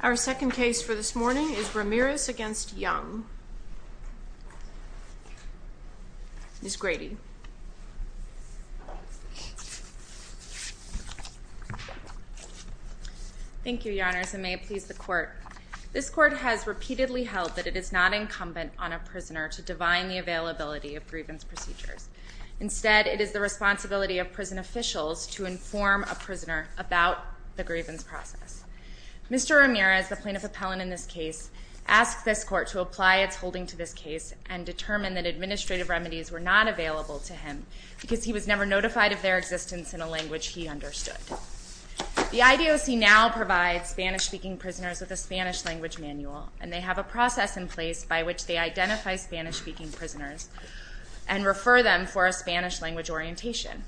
Our second case for this morning is Ramirez v. Young. Ms. Grady. Thank you, Your Honors, and may it please the Court. This Court has repeatedly held that it is not incumbent on a prisoner to divine the availability of grievance procedures. Instead, it is the responsibility of prison officials to ensure that the prisoner is provided with the necessary information to be able to proceed with the procedure. Mr. Ramirez, the plaintiff appellant in this case, asked this Court to apply its holding to this case and determined that administrative remedies were not available to him because he was never notified of their existence in a language he understood. The IDOC now provides Spanish-speaking prisoners with a Spanish-language manual, and they have a process in place by which they identify Spanish-speaking prisoners and refer them for a Spanish-language orientation.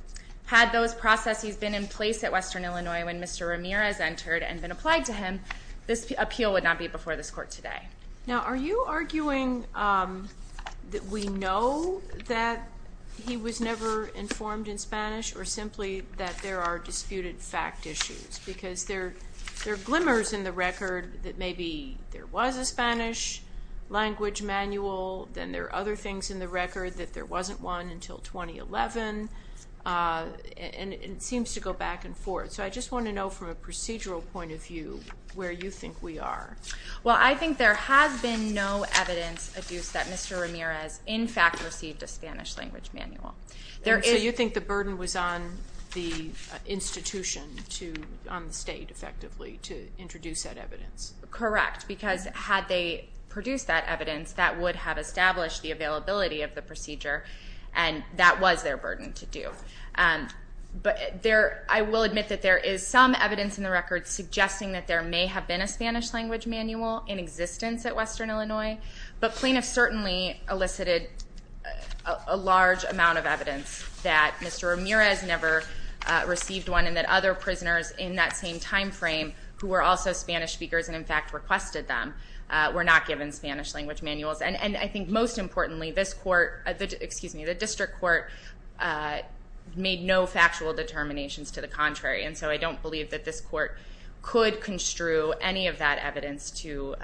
Had those processes been in place at Western Illinois when Mr. Ramirez entered and been applied to him, this appeal would not be before this Court today. Now, are you arguing that we know that he was never informed in Spanish or simply that there are disputed fact issues? Because there are glimmers in the record that maybe there was a Spanish-language manual, then there are other things in the record that there wasn't one until 2011, and it seems to go back and forth. So I just want to know from a procedural point of view where you think we are. Well, I think there has been no evidence adduced that Mr. Ramirez in fact received a Spanish-language manual. So you think the burden was on the institution, on the state effectively, to introduce that evidence? Correct, because had they produced that evidence, that would have established the availability of the procedure, and that was their burden to do. But I will admit that there is some evidence in the record suggesting that there may have been a Spanish-language manual in existence at Western Illinois, but plaintiffs certainly elicited a large amount of evidence that Mr. Ramirez never received one and that other prisoners in that same time frame who were also Spanish speakers and in fact requested them were not given Spanish-language manuals. And I think most importantly, the district court made no factual determinations to the contrary, and so I don't believe that this court could construe any of that evidence to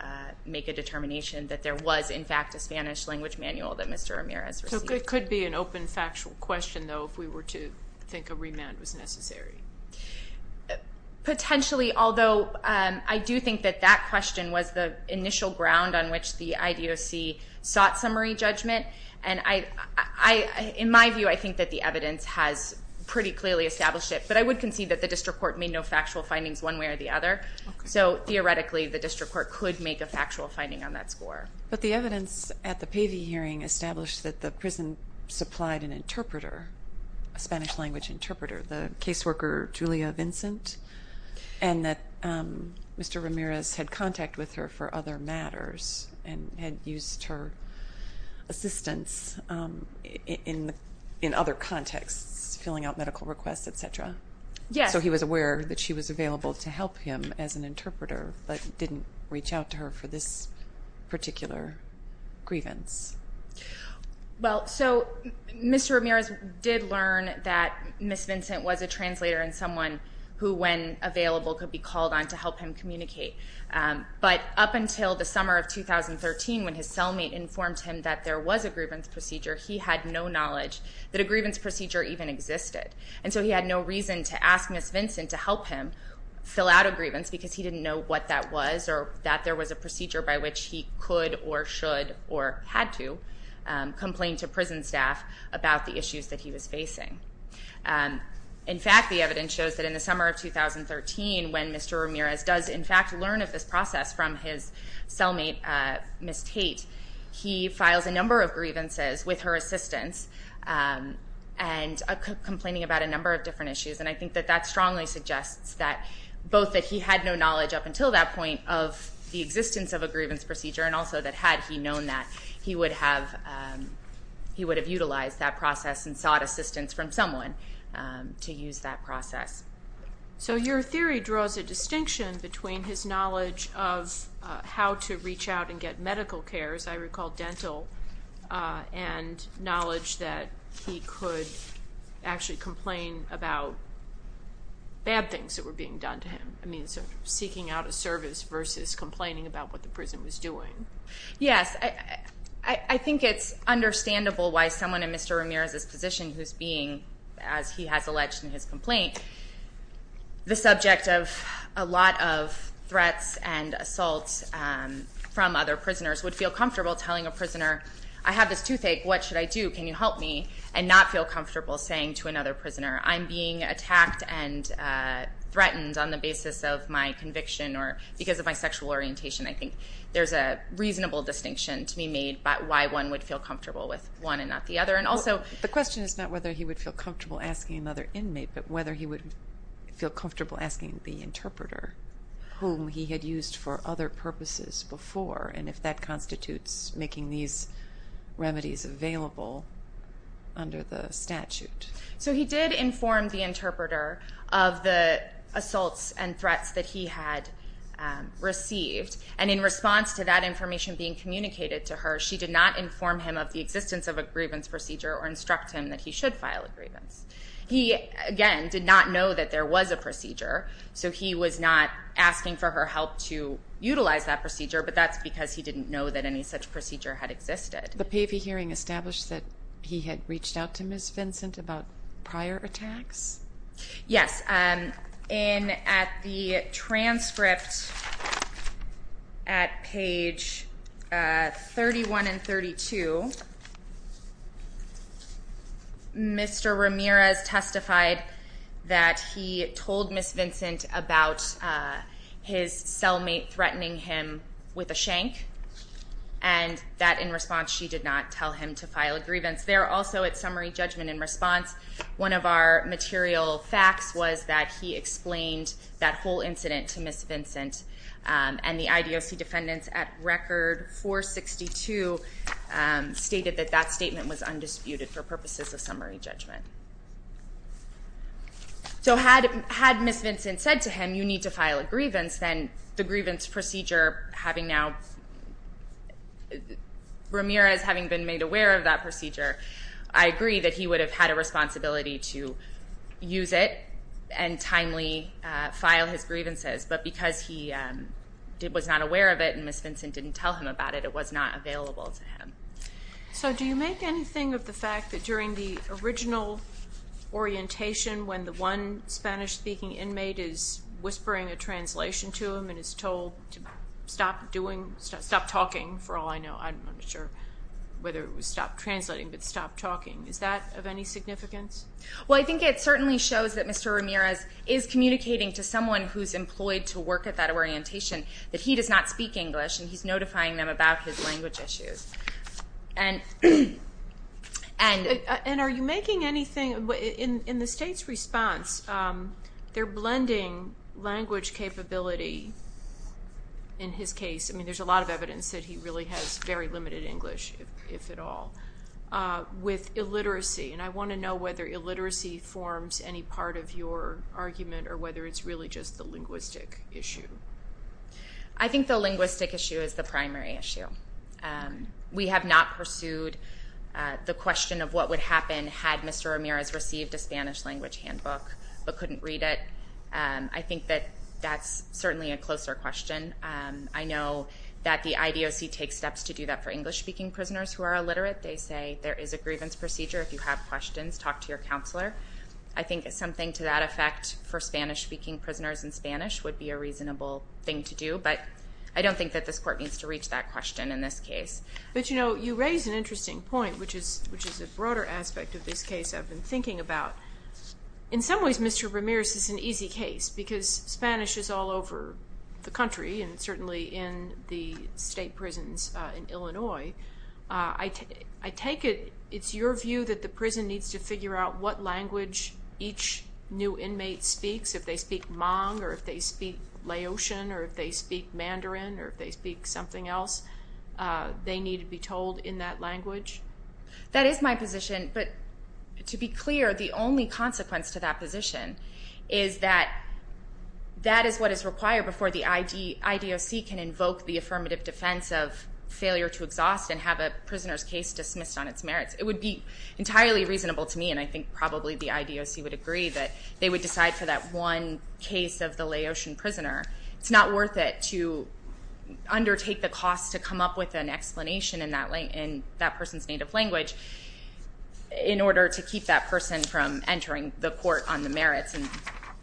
make a determination that there was in fact a Spanish-language manual that Mr. Ramirez received. So it could be an open factual question, though, if we were to think a remand was necessary? Potentially, although I do think that that question was the initial ground on which the IDOC sought summary judgment. And in my view, I think that the evidence has pretty clearly established it, but I would concede that the district court made no factual findings one way or the other. So theoretically, the district court could make a factual finding on that score. But the evidence at the Pavey hearing established that the prison supplied an interpreter, a Spanish-language interpreter, the caseworker Julia Vincent, and that Mr. Ramirez had contact with her for other matters and had used her assistance in other contexts, filling out medical requests, et cetera. Yes. So he was aware that she was available to help him as an interpreter, but didn't reach out to her for this particular grievance. Well, so Mr. Ramirez did learn that Ms. Vincent was a translator and someone who, when available, could be called on to help him communicate. But up until the summer of 2013, when his cellmate informed him that there was a grievance procedure, he had no knowledge that a grievance procedure even existed. And so he had no reason to ask Ms. Vincent to help him fill out a grievance because he didn't know what that was or that there was a procedure by which he could or should or had to complain to prison staff about the issues that he was facing. In fact, the evidence shows that in the summer of 2013, when Mr. Ramirez does, in fact, learn of this process from his cellmate, Ms. Tate, he files a number of grievances with her assistance and complaining about a number of different issues. And I think that that strongly suggests that both that he had no knowledge up until that point of the existence of a grievance procedure and also that had he known that, he would have utilized that process and sought assistance from someone to use that process. So your theory draws a distinction between his knowledge of how to reach out and get medical care, as I recall, dental, and knowledge that he could actually complain about bad things that were being done to him. I mean, seeking out of service versus complaining about what the prison was doing. Yes, I think it's understandable why someone in Mr. Ramirez's position who's being, as he has alleged in his complaint, the subject of a lot of threats and assaults from other prisoners would feel comfortable telling a prisoner, I have this toothache, what should I do? Can you help me? And not feel comfortable saying to another prisoner, I'm being attacked and threatened on the basis of my conviction or because of my sexual orientation. I think there's a reasonable distinction to be made about why one would feel comfortable with one and not the other. The question is not whether he would feel comfortable asking another inmate, but whether he would feel comfortable asking the interpreter, whom he had used for other purposes before, and if that constitutes making these remedies available under the statute. So he did inform the interpreter of the assaults and threats that he had received. And in response to that information being communicated to her, she did not inform him of the existence of a grievance procedure or instruct him that he should file a grievance. He, again, did not know that there was a procedure, so he was not asking for her help to utilize that procedure, but that's because he didn't know that any such procedure had existed. The PAVI hearing established that he had reached out to Ms. Vincent about prior attacks? Yes. And at the transcript at page 31 and 32, Mr. Ramirez testified that he told Ms. Vincent about his cellmate threatening him with a shank, and that in response she did not tell him to file a grievance. There also at summary judgment in response, one of our material facts was that he explained that whole incident to Ms. Vincent, and the IDOC defendants at Record 462 stated that that statement was undisputed for purposes of summary judgment. So had Ms. Vincent said to him, you need to file a grievance, then the grievance procedure having now, Ramirez having been made aware of that procedure, I agree that he would have had a responsibility to use it and timely file his grievances. But because he was not aware of it and Ms. Vincent didn't tell him about it, it was not available to him. So do you make anything of the fact that during the original orientation when the one Spanish-speaking inmate is whispering a translation to him and is told to stop talking, for all I know, I'm not sure whether it was stop translating but stop talking, is that of any significance? Well, I think it certainly shows that Mr. Ramirez is communicating to someone who's employed to work at that orientation that he does not speak English and he's notifying them about his language issues. And are you making anything, in the state's response, they're blending language capability, in his case, I mean there's a lot of evidence that he really has very limited English, if at all, with illiteracy. And I want to know whether illiteracy forms any part of your argument or whether it's really just the linguistic issue. I think the linguistic issue is the primary issue. We have not pursued the question of what would happen had Mr. Ramirez received a Spanish language handbook but couldn't read it. I think that that's certainly a closer question. I know that the IDOC takes steps to do that for English-speaking prisoners who are illiterate. They say there is a grievance procedure. If you have questions, talk to your counselor. I think something to that effect for Spanish-speaking prisoners in Spanish would be a reasonable thing to do. But I don't think that this court needs to reach that question in this case. But, you know, you raise an interesting point, which is a broader aspect of this case I've been thinking about. In some ways, Mr. Ramirez is an easy case because Spanish is all over the country and certainly in the state prisons in Illinois. I take it it's your view that the prison needs to figure out what language each new inmate speaks, if they speak Hmong or if they speak Laotian or if they speak Mandarin or if they speak something else. They need to be told in that language. That is my position, but to be clear, the only consequence to that position is that that is what is required before the IDOC can invoke the affirmative defense of failure to exhaust and have a prisoner's case dismissed on its merits. It would be entirely reasonable to me, and I think probably the IDOC would agree, that they would decide for that one case of the Laotian prisoner. It's not worth it to undertake the cost to come up with an explanation in that person's native language in order to keep that person from entering the court on the merits and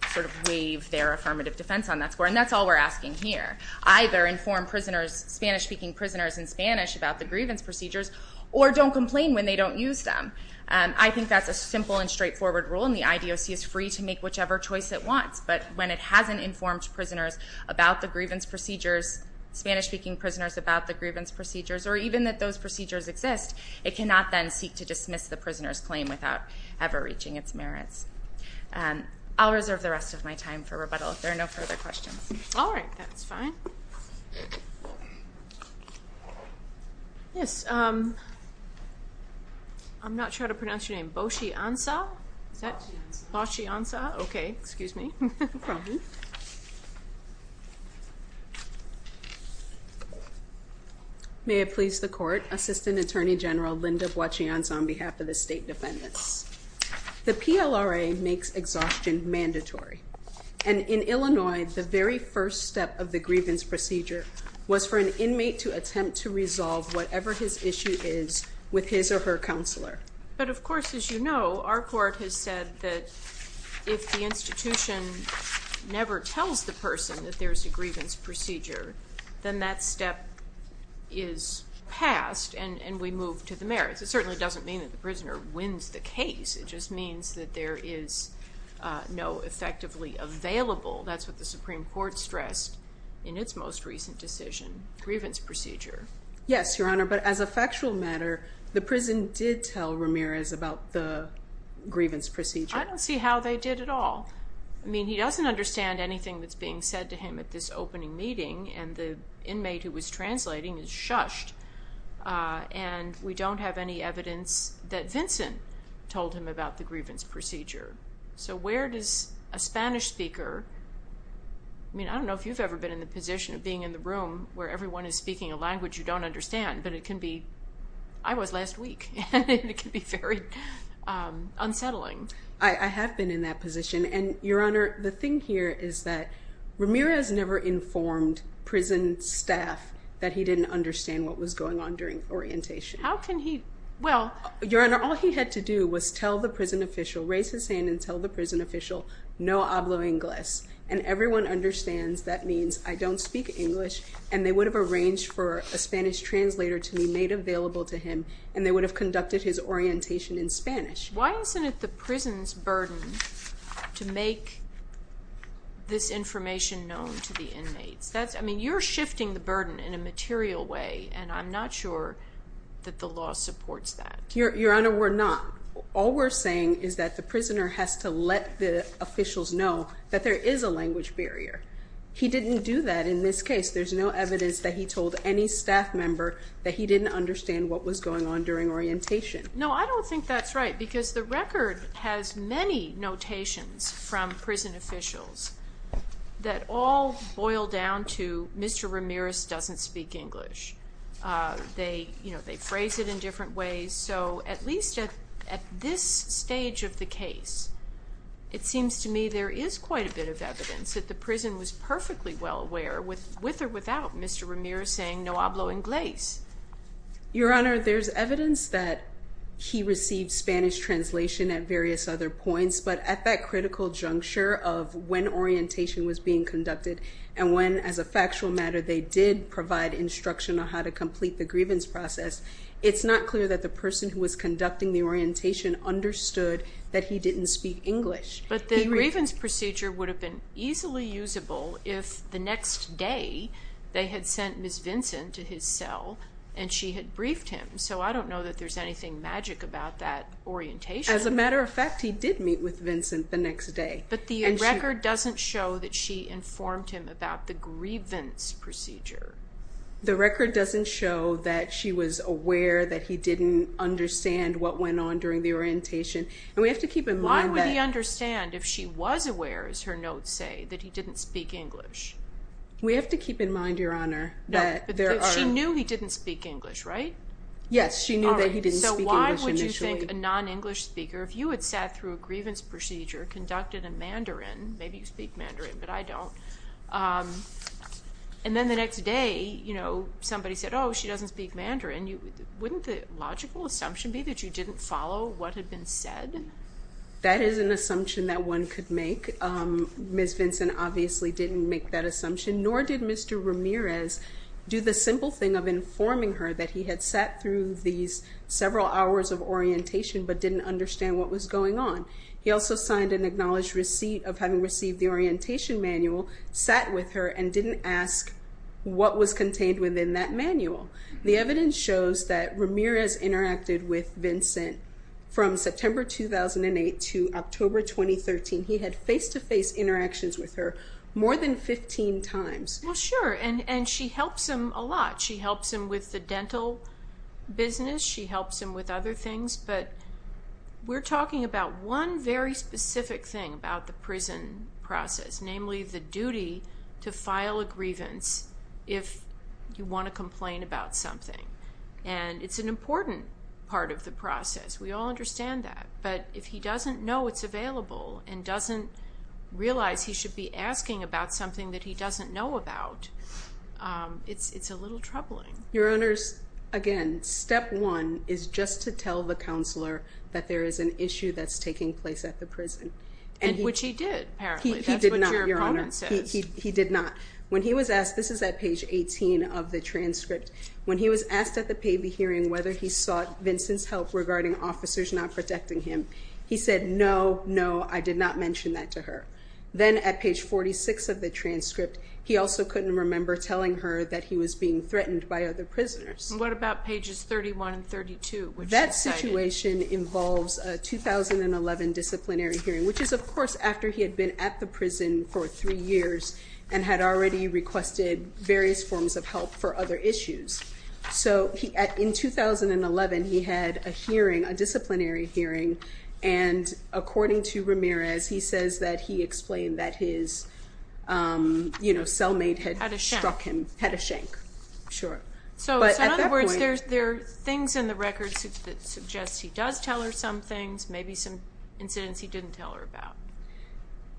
sort of waive their affirmative defense on that score. And that's all we're asking here. Either inform prisoners, Spanish-speaking prisoners in Spanish, about the grievance procedures, or don't complain when they don't use them. I think that's a simple and straightforward rule, and the IDOC is free to make whichever choice it wants. But when it hasn't informed prisoners about the grievance procedures, Spanish-speaking prisoners about the grievance procedures, or even that those procedures exist, it cannot then seek to dismiss the prisoner's claim without ever reaching its merits. I'll reserve the rest of my time for rebuttal if there are no further questions. All right. That's fine. Yes. I'm not sure how to pronounce your name. Boshiansa? Boshiansa. Boshiansa. Okay. Excuse me. May it please the court. Assistant Attorney General Linda Boshiansa on behalf of the state defendants. The PLRA makes exhaustion mandatory, and in Illinois, the very first step of the grievance procedure was for an inmate to attempt to resolve whatever his issue is with his or her counselor. But of course, as you know, our court has said that if the institution never tells the person that there's a grievance procedure, then that step is passed and we move to the merits. It certainly doesn't mean that the prisoner wins the case. It just means that there is no effectively available, that's what the Supreme Court stressed in its most recent decision, grievance procedure. Yes, Your Honor, but as a factual matter, the prison did tell Ramirez about the grievance procedure. I don't see how they did at all. I mean, he doesn't understand anything that's being said to him at this opening meeting, and the inmate who was translating is shushed. And we don't have any evidence that Vincent told him about the grievance procedure. So where does a Spanish speaker, I mean, I don't know if you've ever been in the position of being in the room where everyone is speaking a language you don't understand, but it can be, I was last week, and it can be very unsettling. I have been in that position. And, Your Honor, the thing here is that Ramirez never informed prison staff that he didn't understand what was going on during orientation. How can he, well? Your Honor, all he had to do was tell the prison official, raise his hand and tell the prison official, no hablo ingles, and everyone understands that means I don't speak English, and they would have arranged for a Spanish translator to be made available to him, and they would have conducted his orientation in Spanish. Why isn't it the prison's burden to make this information known to the inmates? I mean, you're shifting the burden in a material way, and I'm not sure that the law supports that. Your Honor, we're not. All we're saying is that the prisoner has to let the officials know that there is a language barrier. He didn't do that in this case. There's no evidence that he told any staff member that he didn't understand what was going on during orientation. No, I don't think that's right because the record has many notations from prison officials that all boil down to Mr. Ramirez doesn't speak English. They phrase it in different ways, so at least at this stage of the case, it seems to me there is quite a bit of evidence that the prison was perfectly well aware, with or without Mr. Ramirez saying no hablo ingles. Your Honor, there's evidence that he received Spanish translation at various other points, but at that critical juncture of when orientation was being conducted and when, as a factual matter, they did provide instruction on how to complete the grievance process, it's not clear that the person who was conducting the orientation understood that he didn't speak English. But the grievance procedure would have been easily usable if the next day they had sent Ms. Vincent to his cell and she had briefed him, so I don't know that there's anything magic about that orientation. As a matter of fact, he did meet with Vincent the next day. But the record doesn't show that she informed him about the grievance procedure. The record doesn't show that she was aware that he didn't understand what went on during the orientation. And we have to keep in mind that... Why would he understand if she was aware, as her notes say, that he didn't speak English? We have to keep in mind, Your Honor, that there are... No, but she knew he didn't speak English, right? Yes, she knew that he didn't speak English initially. All right, so why would you think a non-English speaker, if you had sat through a grievance procedure, conducted a Mandarin, maybe you speak Mandarin, but I don't, and then the next day, you know, somebody said, oh, she doesn't speak Mandarin, wouldn't the logical assumption be that you didn't follow what had been said? That is an assumption that one could make. Ms. Vincent obviously didn't make that assumption, nor did Mr. Ramirez do the simple thing of informing her that he had sat through these several hours of orientation, but didn't understand what was going on. He also signed an acknowledged receipt of having received the orientation manual, sat with her, and didn't ask what was contained within that manual. The evidence shows that Ramirez interacted with Vincent from September 2008 to October 2013. He had face-to-face interactions with her more than 15 times. Well, sure, and she helps him a lot. She helps him with the dental business, she helps him with other things, but we're talking about one very specific thing about the prison process, namely the duty to file a grievance if you want to complain about something. And it's an important part of the process. We all understand that. But if he doesn't know it's available and doesn't realize he should be asking about something that he doesn't know about, it's a little troubling. Your Honors, again, step one is just to tell the counselor that there is an issue that's taking place at the prison. Which he did, apparently. He did not, Your Honor. That's what your opponent says. He did not. When he was asked, this is at page 18 of the transcript, when he was asked at the payee hearing whether he sought Vincent's help regarding officers not protecting him, he said, no, no, I did not mention that to her. Then at page 46 of the transcript, he also couldn't remember telling her that he was being threatened by other prisoners. What about pages 31 and 32? That situation involves a 2011 disciplinary hearing, which is, of course, after he had been at the prison for three years and had already requested various forms of help for other issues. So in 2011, he had a disciplinary hearing, and according to Ramirez, he says that he explained that his cellmate had struck him. Had a shank. Had a shank, sure. So in other words, there are things in the records that suggest he does tell her some things, maybe some incidents he didn't tell her about.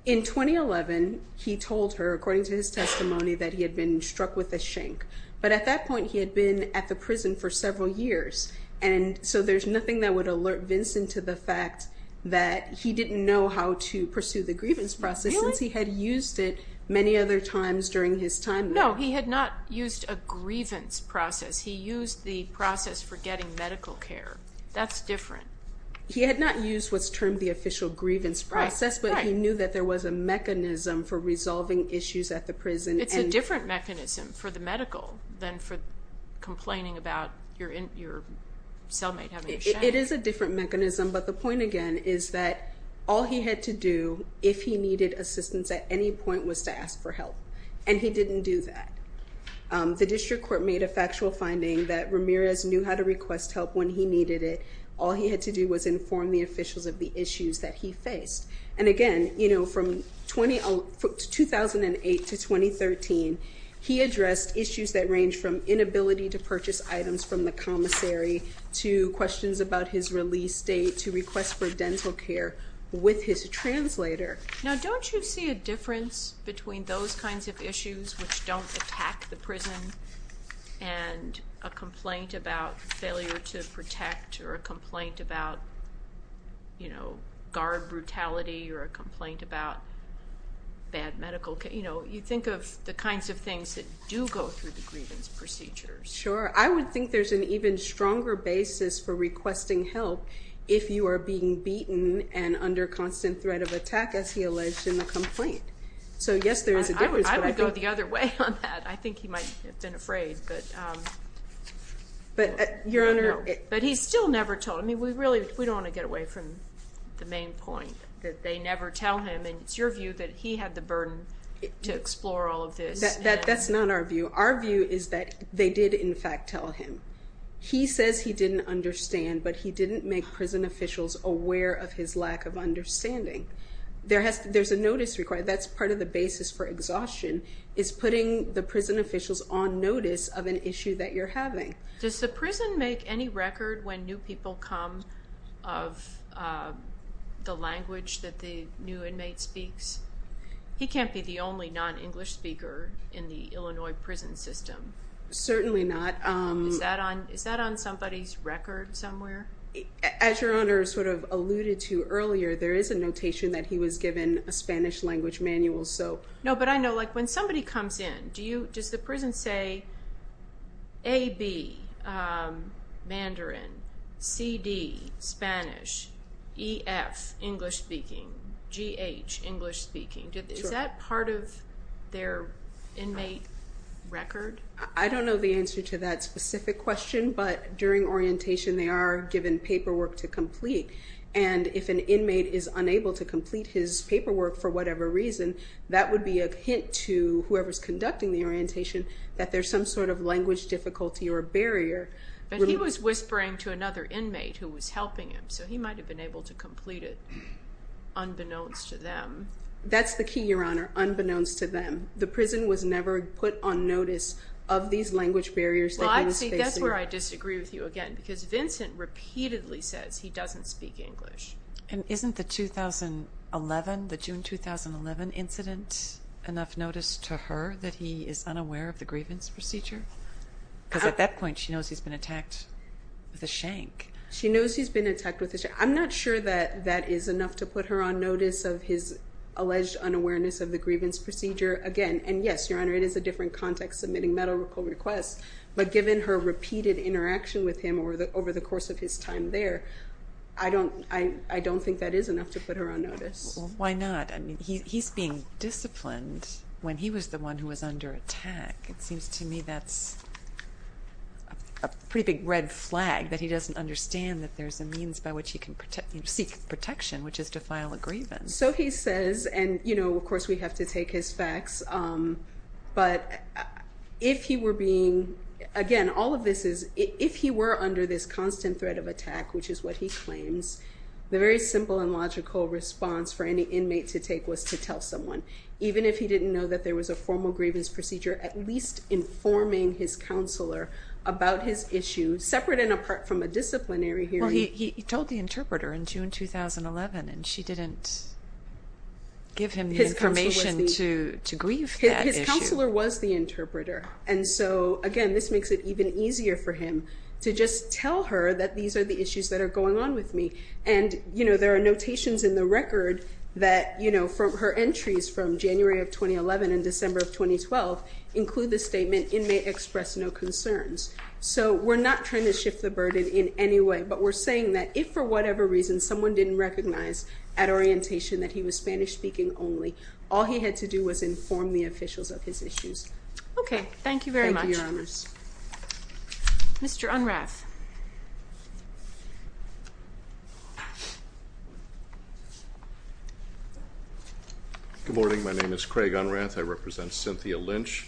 In 2011, he told her, according to his testimony, that he had been struck with a shank. But at that point, he had been at the prison for several years, and so there's nothing that would alert Vincent to the fact that he didn't know how to pursue the grievance process since he had used it many other times during his time there. No, he had not used a grievance process. He used the process for getting medical care. That's different. He had not used what's termed the official grievance process, but he knew that there was a mechanism for resolving issues at the prison. It's a different mechanism for the medical than for complaining about your cellmate having a shank. It is a different mechanism, but the point, again, is that all he had to do if he needed assistance at any point was to ask for help, and he didn't do that. The district court made a factual finding that Ramirez knew how to request help when he needed it. All he had to do was inform the officials of the issues that he faced. And again, you know, from 2008 to 2013, he addressed issues that ranged from inability to purchase items from the commissary to questions about his release date to requests for dental care with his translator. Now, don't you see a difference between those kinds of issues which don't attack the prison and a complaint about failure to protect or a complaint about, you know, guard brutality or a complaint about bad medical care? You know, you think of the kinds of things that do go through the grievance procedures. Sure. I would think there's an even stronger basis for requesting help if you are being beaten and under constant threat of attack, as he alleged in the complaint. So, yes, there is a difference. I would go the other way on that. I think he might have been afraid. But, Your Honor. But he still never told. I mean, we really don't want to get away from the main point that they never tell him, and it's your view that he had the burden to explore all of this. That's not our view. Our view is that they did, in fact, tell him. He says he didn't understand, but he didn't make prison officials aware of his lack of understanding. There's a notice required. That's part of the basis for exhaustion is putting the prison officials on notice of an issue that you're having. Does the prison make any record when new people come of the language that the new inmate speaks? He can't be the only non-English speaker in the Illinois prison system. Certainly not. Is that on somebody's record somewhere? As Your Honor sort of alluded to earlier, there is a notation that he was given a Spanish language manual. No, but I know, like, when somebody comes in, does the prison say, A, B, Mandarin, C, D, Spanish, E, F, English speaking, G, H, English speaking? Is that part of their inmate record? I don't know the answer to that specific question, but during orientation they are given paperwork to complete, and if an inmate is unable to complete his paperwork for whatever reason, that would be a hint to whoever's conducting the orientation that there's some sort of language difficulty or barrier. But he was whispering to another inmate who was helping him, so he might have been able to complete it, unbeknownst to them. That's the key, Your Honor, unbeknownst to them. The prison was never put on notice of these language barriers that he was facing. Well, I think that's where I disagree with you again, because Vincent repeatedly says he doesn't speak English. And isn't the 2011, the June 2011 incident enough notice to her that he is unaware of the grievance procedure? Because at that point she knows he's been attacked with a shank. I'm not sure that that is enough to put her on notice of his alleged unawareness of the grievance procedure again. And, yes, Your Honor, it is a different context submitting medical requests, but given her repeated interaction with him over the course of his time there, I don't think that is enough to put her on notice. Well, why not? I mean, he's being disciplined when he was the one who was under attack. It seems to me that's a pretty big red flag that he doesn't understand that there's a means by which he can seek protection, which is to file a grievance. So he says, and, you know, of course we have to take his facts, but if he were being, again, all of this is, if he were under this constant threat of attack, which is what he claims, the very simple and logical response for any inmate to take was to tell someone. Even if he didn't know that there was a formal grievance procedure, at least informing his counselor about his issue, separate and apart from a disciplinary hearing. Well, he told the interpreter in June 2011, and she didn't give him the information to grieve that issue. His counselor was the interpreter. And so, again, this makes it even easier for him to just tell her that these are the issues that are going on with me. And, you know, there are notations in the record that, you know, her entries from January of 2011 and December of 2012 include the statement, inmate express no concerns. So we're not trying to shift the burden in any way, but we're saying that if for whatever reason someone didn't recognize at orientation that he was Spanish speaking only, all he had to do was inform the officials of his issues. Thank you very much. Thank you, Your Honors. Mr. Unrath. Good morning. My name is Craig Unrath. I represent Cynthia Lynch.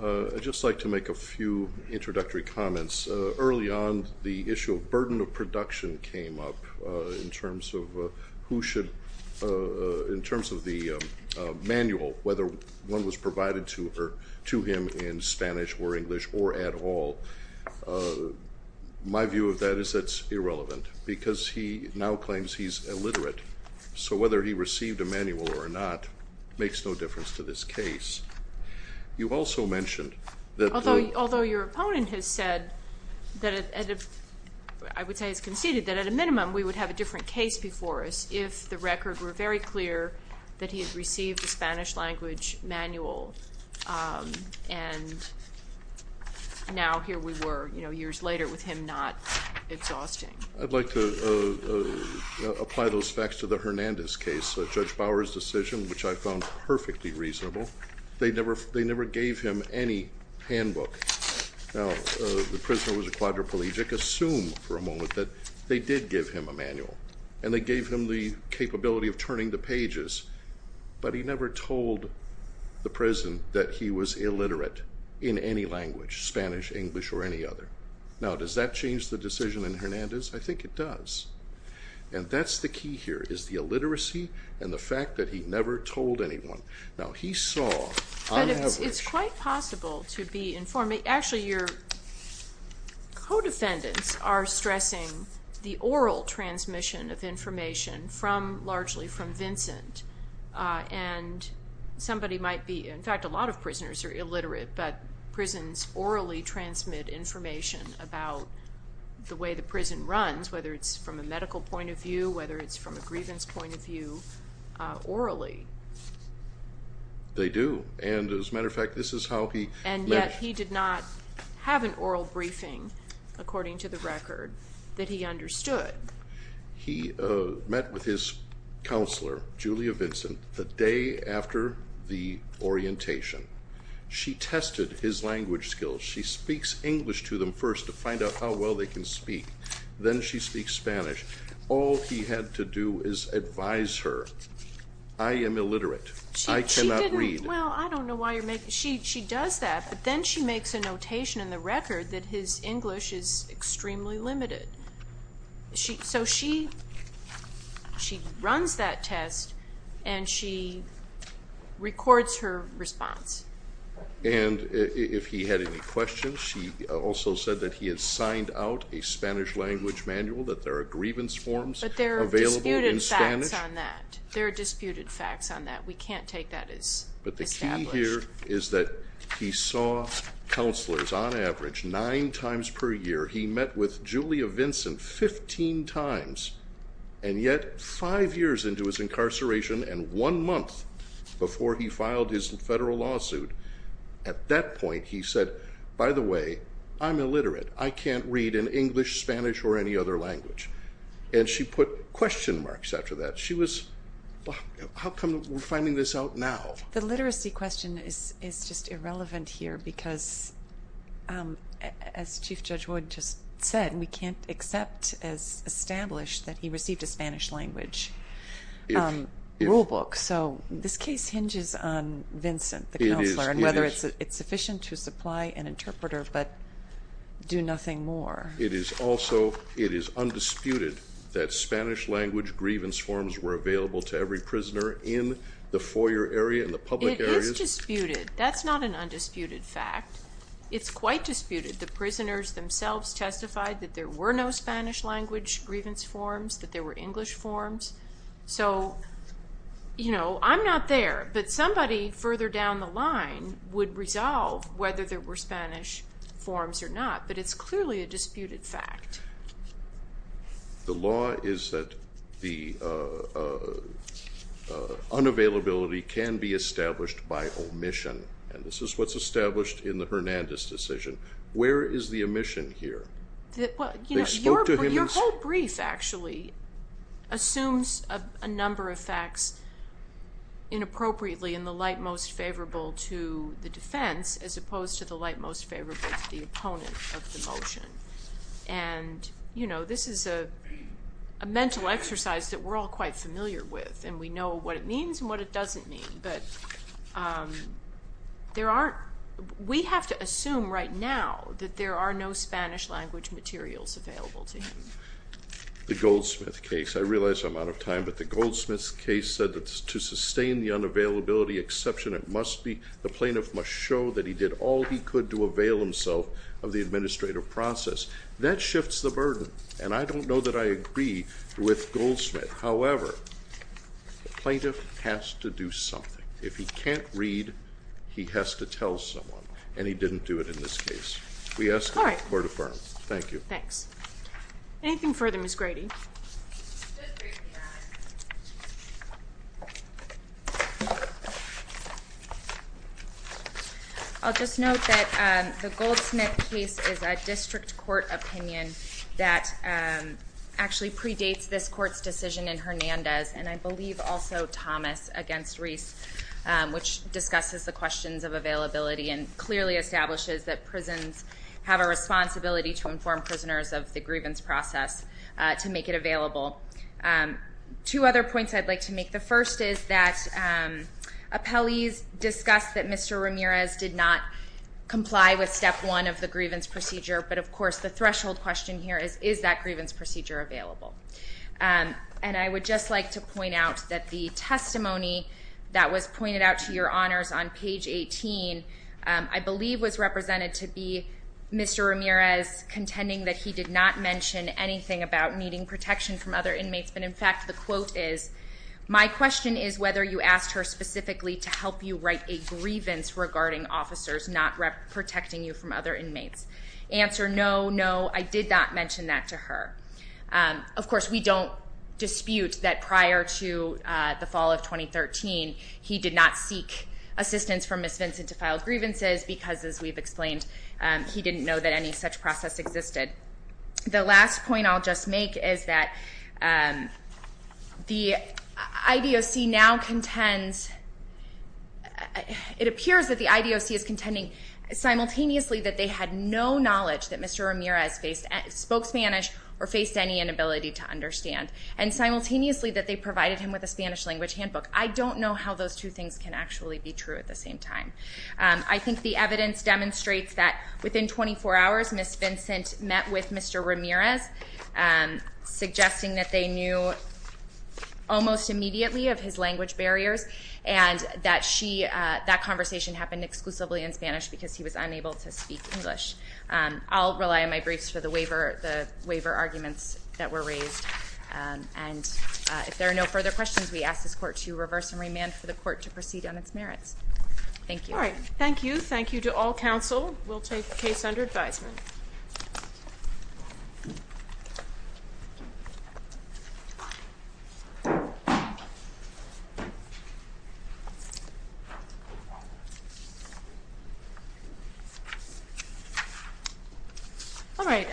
I'd just like to make a few introductory comments. Early on, the issue of burden of production came up in terms of who should, in terms of the manual, whether one was provided to him in Spanish or English or at all. My view of that is that's irrelevant because he now claims he's illiterate. So whether he received a manual or not makes no difference to this case. You also mentioned that the- Although your opponent has said that, I would say has conceded, that at a minimum we would have a different case before us if the record were very clear that he had received a Spanish language manual and now here we were, you know, years later with him not exhausting. I'd like to apply those facts to the Hernandez case. Judge Bower's decision, which I found perfectly reasonable, they never gave him any handbook. Now, the prisoner was a quadriplegic. Assume for a moment that they did give him a manual and they gave him the capability of turning the pages, but he never told the prison that he was illiterate in any language, Spanish, English, or any other. Now, does that change the decision in Hernandez? I think it does. And that's the key here is the illiteracy and the fact that he never told anyone. Now, he saw on average- The defendants are stressing the oral transmission of information largely from Vincent, and somebody might be- in fact, a lot of prisoners are illiterate, but prisons orally transmit information about the way the prison runs, whether it's from a medical point of view, whether it's from a grievance point of view, orally. They do, and as a matter of fact, this is how he- according to the record, that he understood. He met with his counselor, Julia Vincent, the day after the orientation. She tested his language skills. She speaks English to them first to find out how well they can speak. Then she speaks Spanish. All he had to do is advise her, I am illiterate, I cannot read. Well, I don't know why you're making- She does that, but then she makes a notation in the record that his English is extremely limited. So she runs that test, and she records her response. And if he had any questions, she also said that he had signed out a Spanish language manual, that there are grievance forms available in Spanish. But there are disputed facts on that. There are disputed facts on that. We can't take that as established. But the key here is that he saw counselors on average nine times per year. He met with Julia Vincent 15 times, and yet five years into his incarceration and one month before he filed his federal lawsuit, at that point he said, by the way, I'm illiterate. I can't read in English, Spanish, or any other language. And she put question marks after that. She was, how come we're finding this out now? The literacy question is just irrelevant here, because as Chief Judge Wood just said, we can't accept as established that he received a Spanish language rulebook. So this case hinges on Vincent, the counselor, and whether it's sufficient to supply an interpreter but do nothing more. It is undisputed that Spanish language grievance forms were available to every prisoner in the foyer area and the public areas. It is disputed. That's not an undisputed fact. It's quite disputed. The prisoners themselves testified that there were no Spanish language grievance forms, that there were English forms. So, you know, I'm not there. But somebody further down the line would resolve whether there were Spanish forms or not. But it's clearly a disputed fact. The law is that the unavailability can be established by omission, and this is what's established in the Hernandez decision. Where is the omission here? Your whole brief actually assumes a number of facts inappropriately in the light most favorable to the defense as opposed to the light most favorable to the opponent of the motion. And, you know, this is a mental exercise that we're all quite familiar with, and we know what it means and what it doesn't mean. But we have to assume right now that there are no Spanish language materials available to him. The Goldsmith case, I realize I'm out of time, but the Goldsmith case said that to sustain the unavailability exception, the plaintiff must show that he did all he could to avail himself of the administrative process. That shifts the burden, and I don't know that I agree with Goldsmith. However, the plaintiff has to do something. If he can't read, he has to tell someone, and he didn't do it in this case. We ask that the court affirm. Thank you. Thanks. Anything further, Ms. Grady? Just briefly, I'll just note that the Goldsmith case is a district court opinion that actually predates this court's decision in Hernandez, and I believe also Thomas against Reese, which discusses the questions of availability and clearly establishes that prisons have a responsibility to inform prisoners of the grievance process to make it available. Two other points I'd like to make. The first is that appellees discussed that Mr. Ramirez did not comply with step one of the grievance procedure, but, of course, the threshold question here is, is that grievance procedure available? And I would just like to point out that the testimony that was pointed out to your honors on page 18, I believe was represented to be Mr. Ramirez contending that he did not mention anything about needing protection from other inmates, but, in fact, the quote is, my question is whether you asked her specifically to help you write a grievance regarding officers not protecting you from other inmates. Answer, no, no, I did not mention that to her. Of course, we don't dispute that prior to the fall of 2013, he did not seek assistance from Ms. Vincent to file grievances because, as we've explained, he didn't know that any such process existed. The last point I'll just make is that the IDOC now contends, it appears that the IDOC is contending simultaneously that they had no knowledge that Mr. Ramirez spoke Spanish or faced any inability to understand, and simultaneously that they provided him with a Spanish language handbook. I don't know how those two things can actually be true at the same time. I think the evidence demonstrates that within 24 hours, Ms. Vincent met with Mr. Ramirez, suggesting that they knew almost immediately of his language barriers and that that conversation happened exclusively in Spanish because he was unable to speak English. I'll rely on my briefs for the waiver arguments that were raised. If there are no further questions, we ask this Court to reverse and remand for the Court to proceed on its merits. Thank you. All right. Thank you. Thank you to all counsel. We'll take the case under advisement. All right.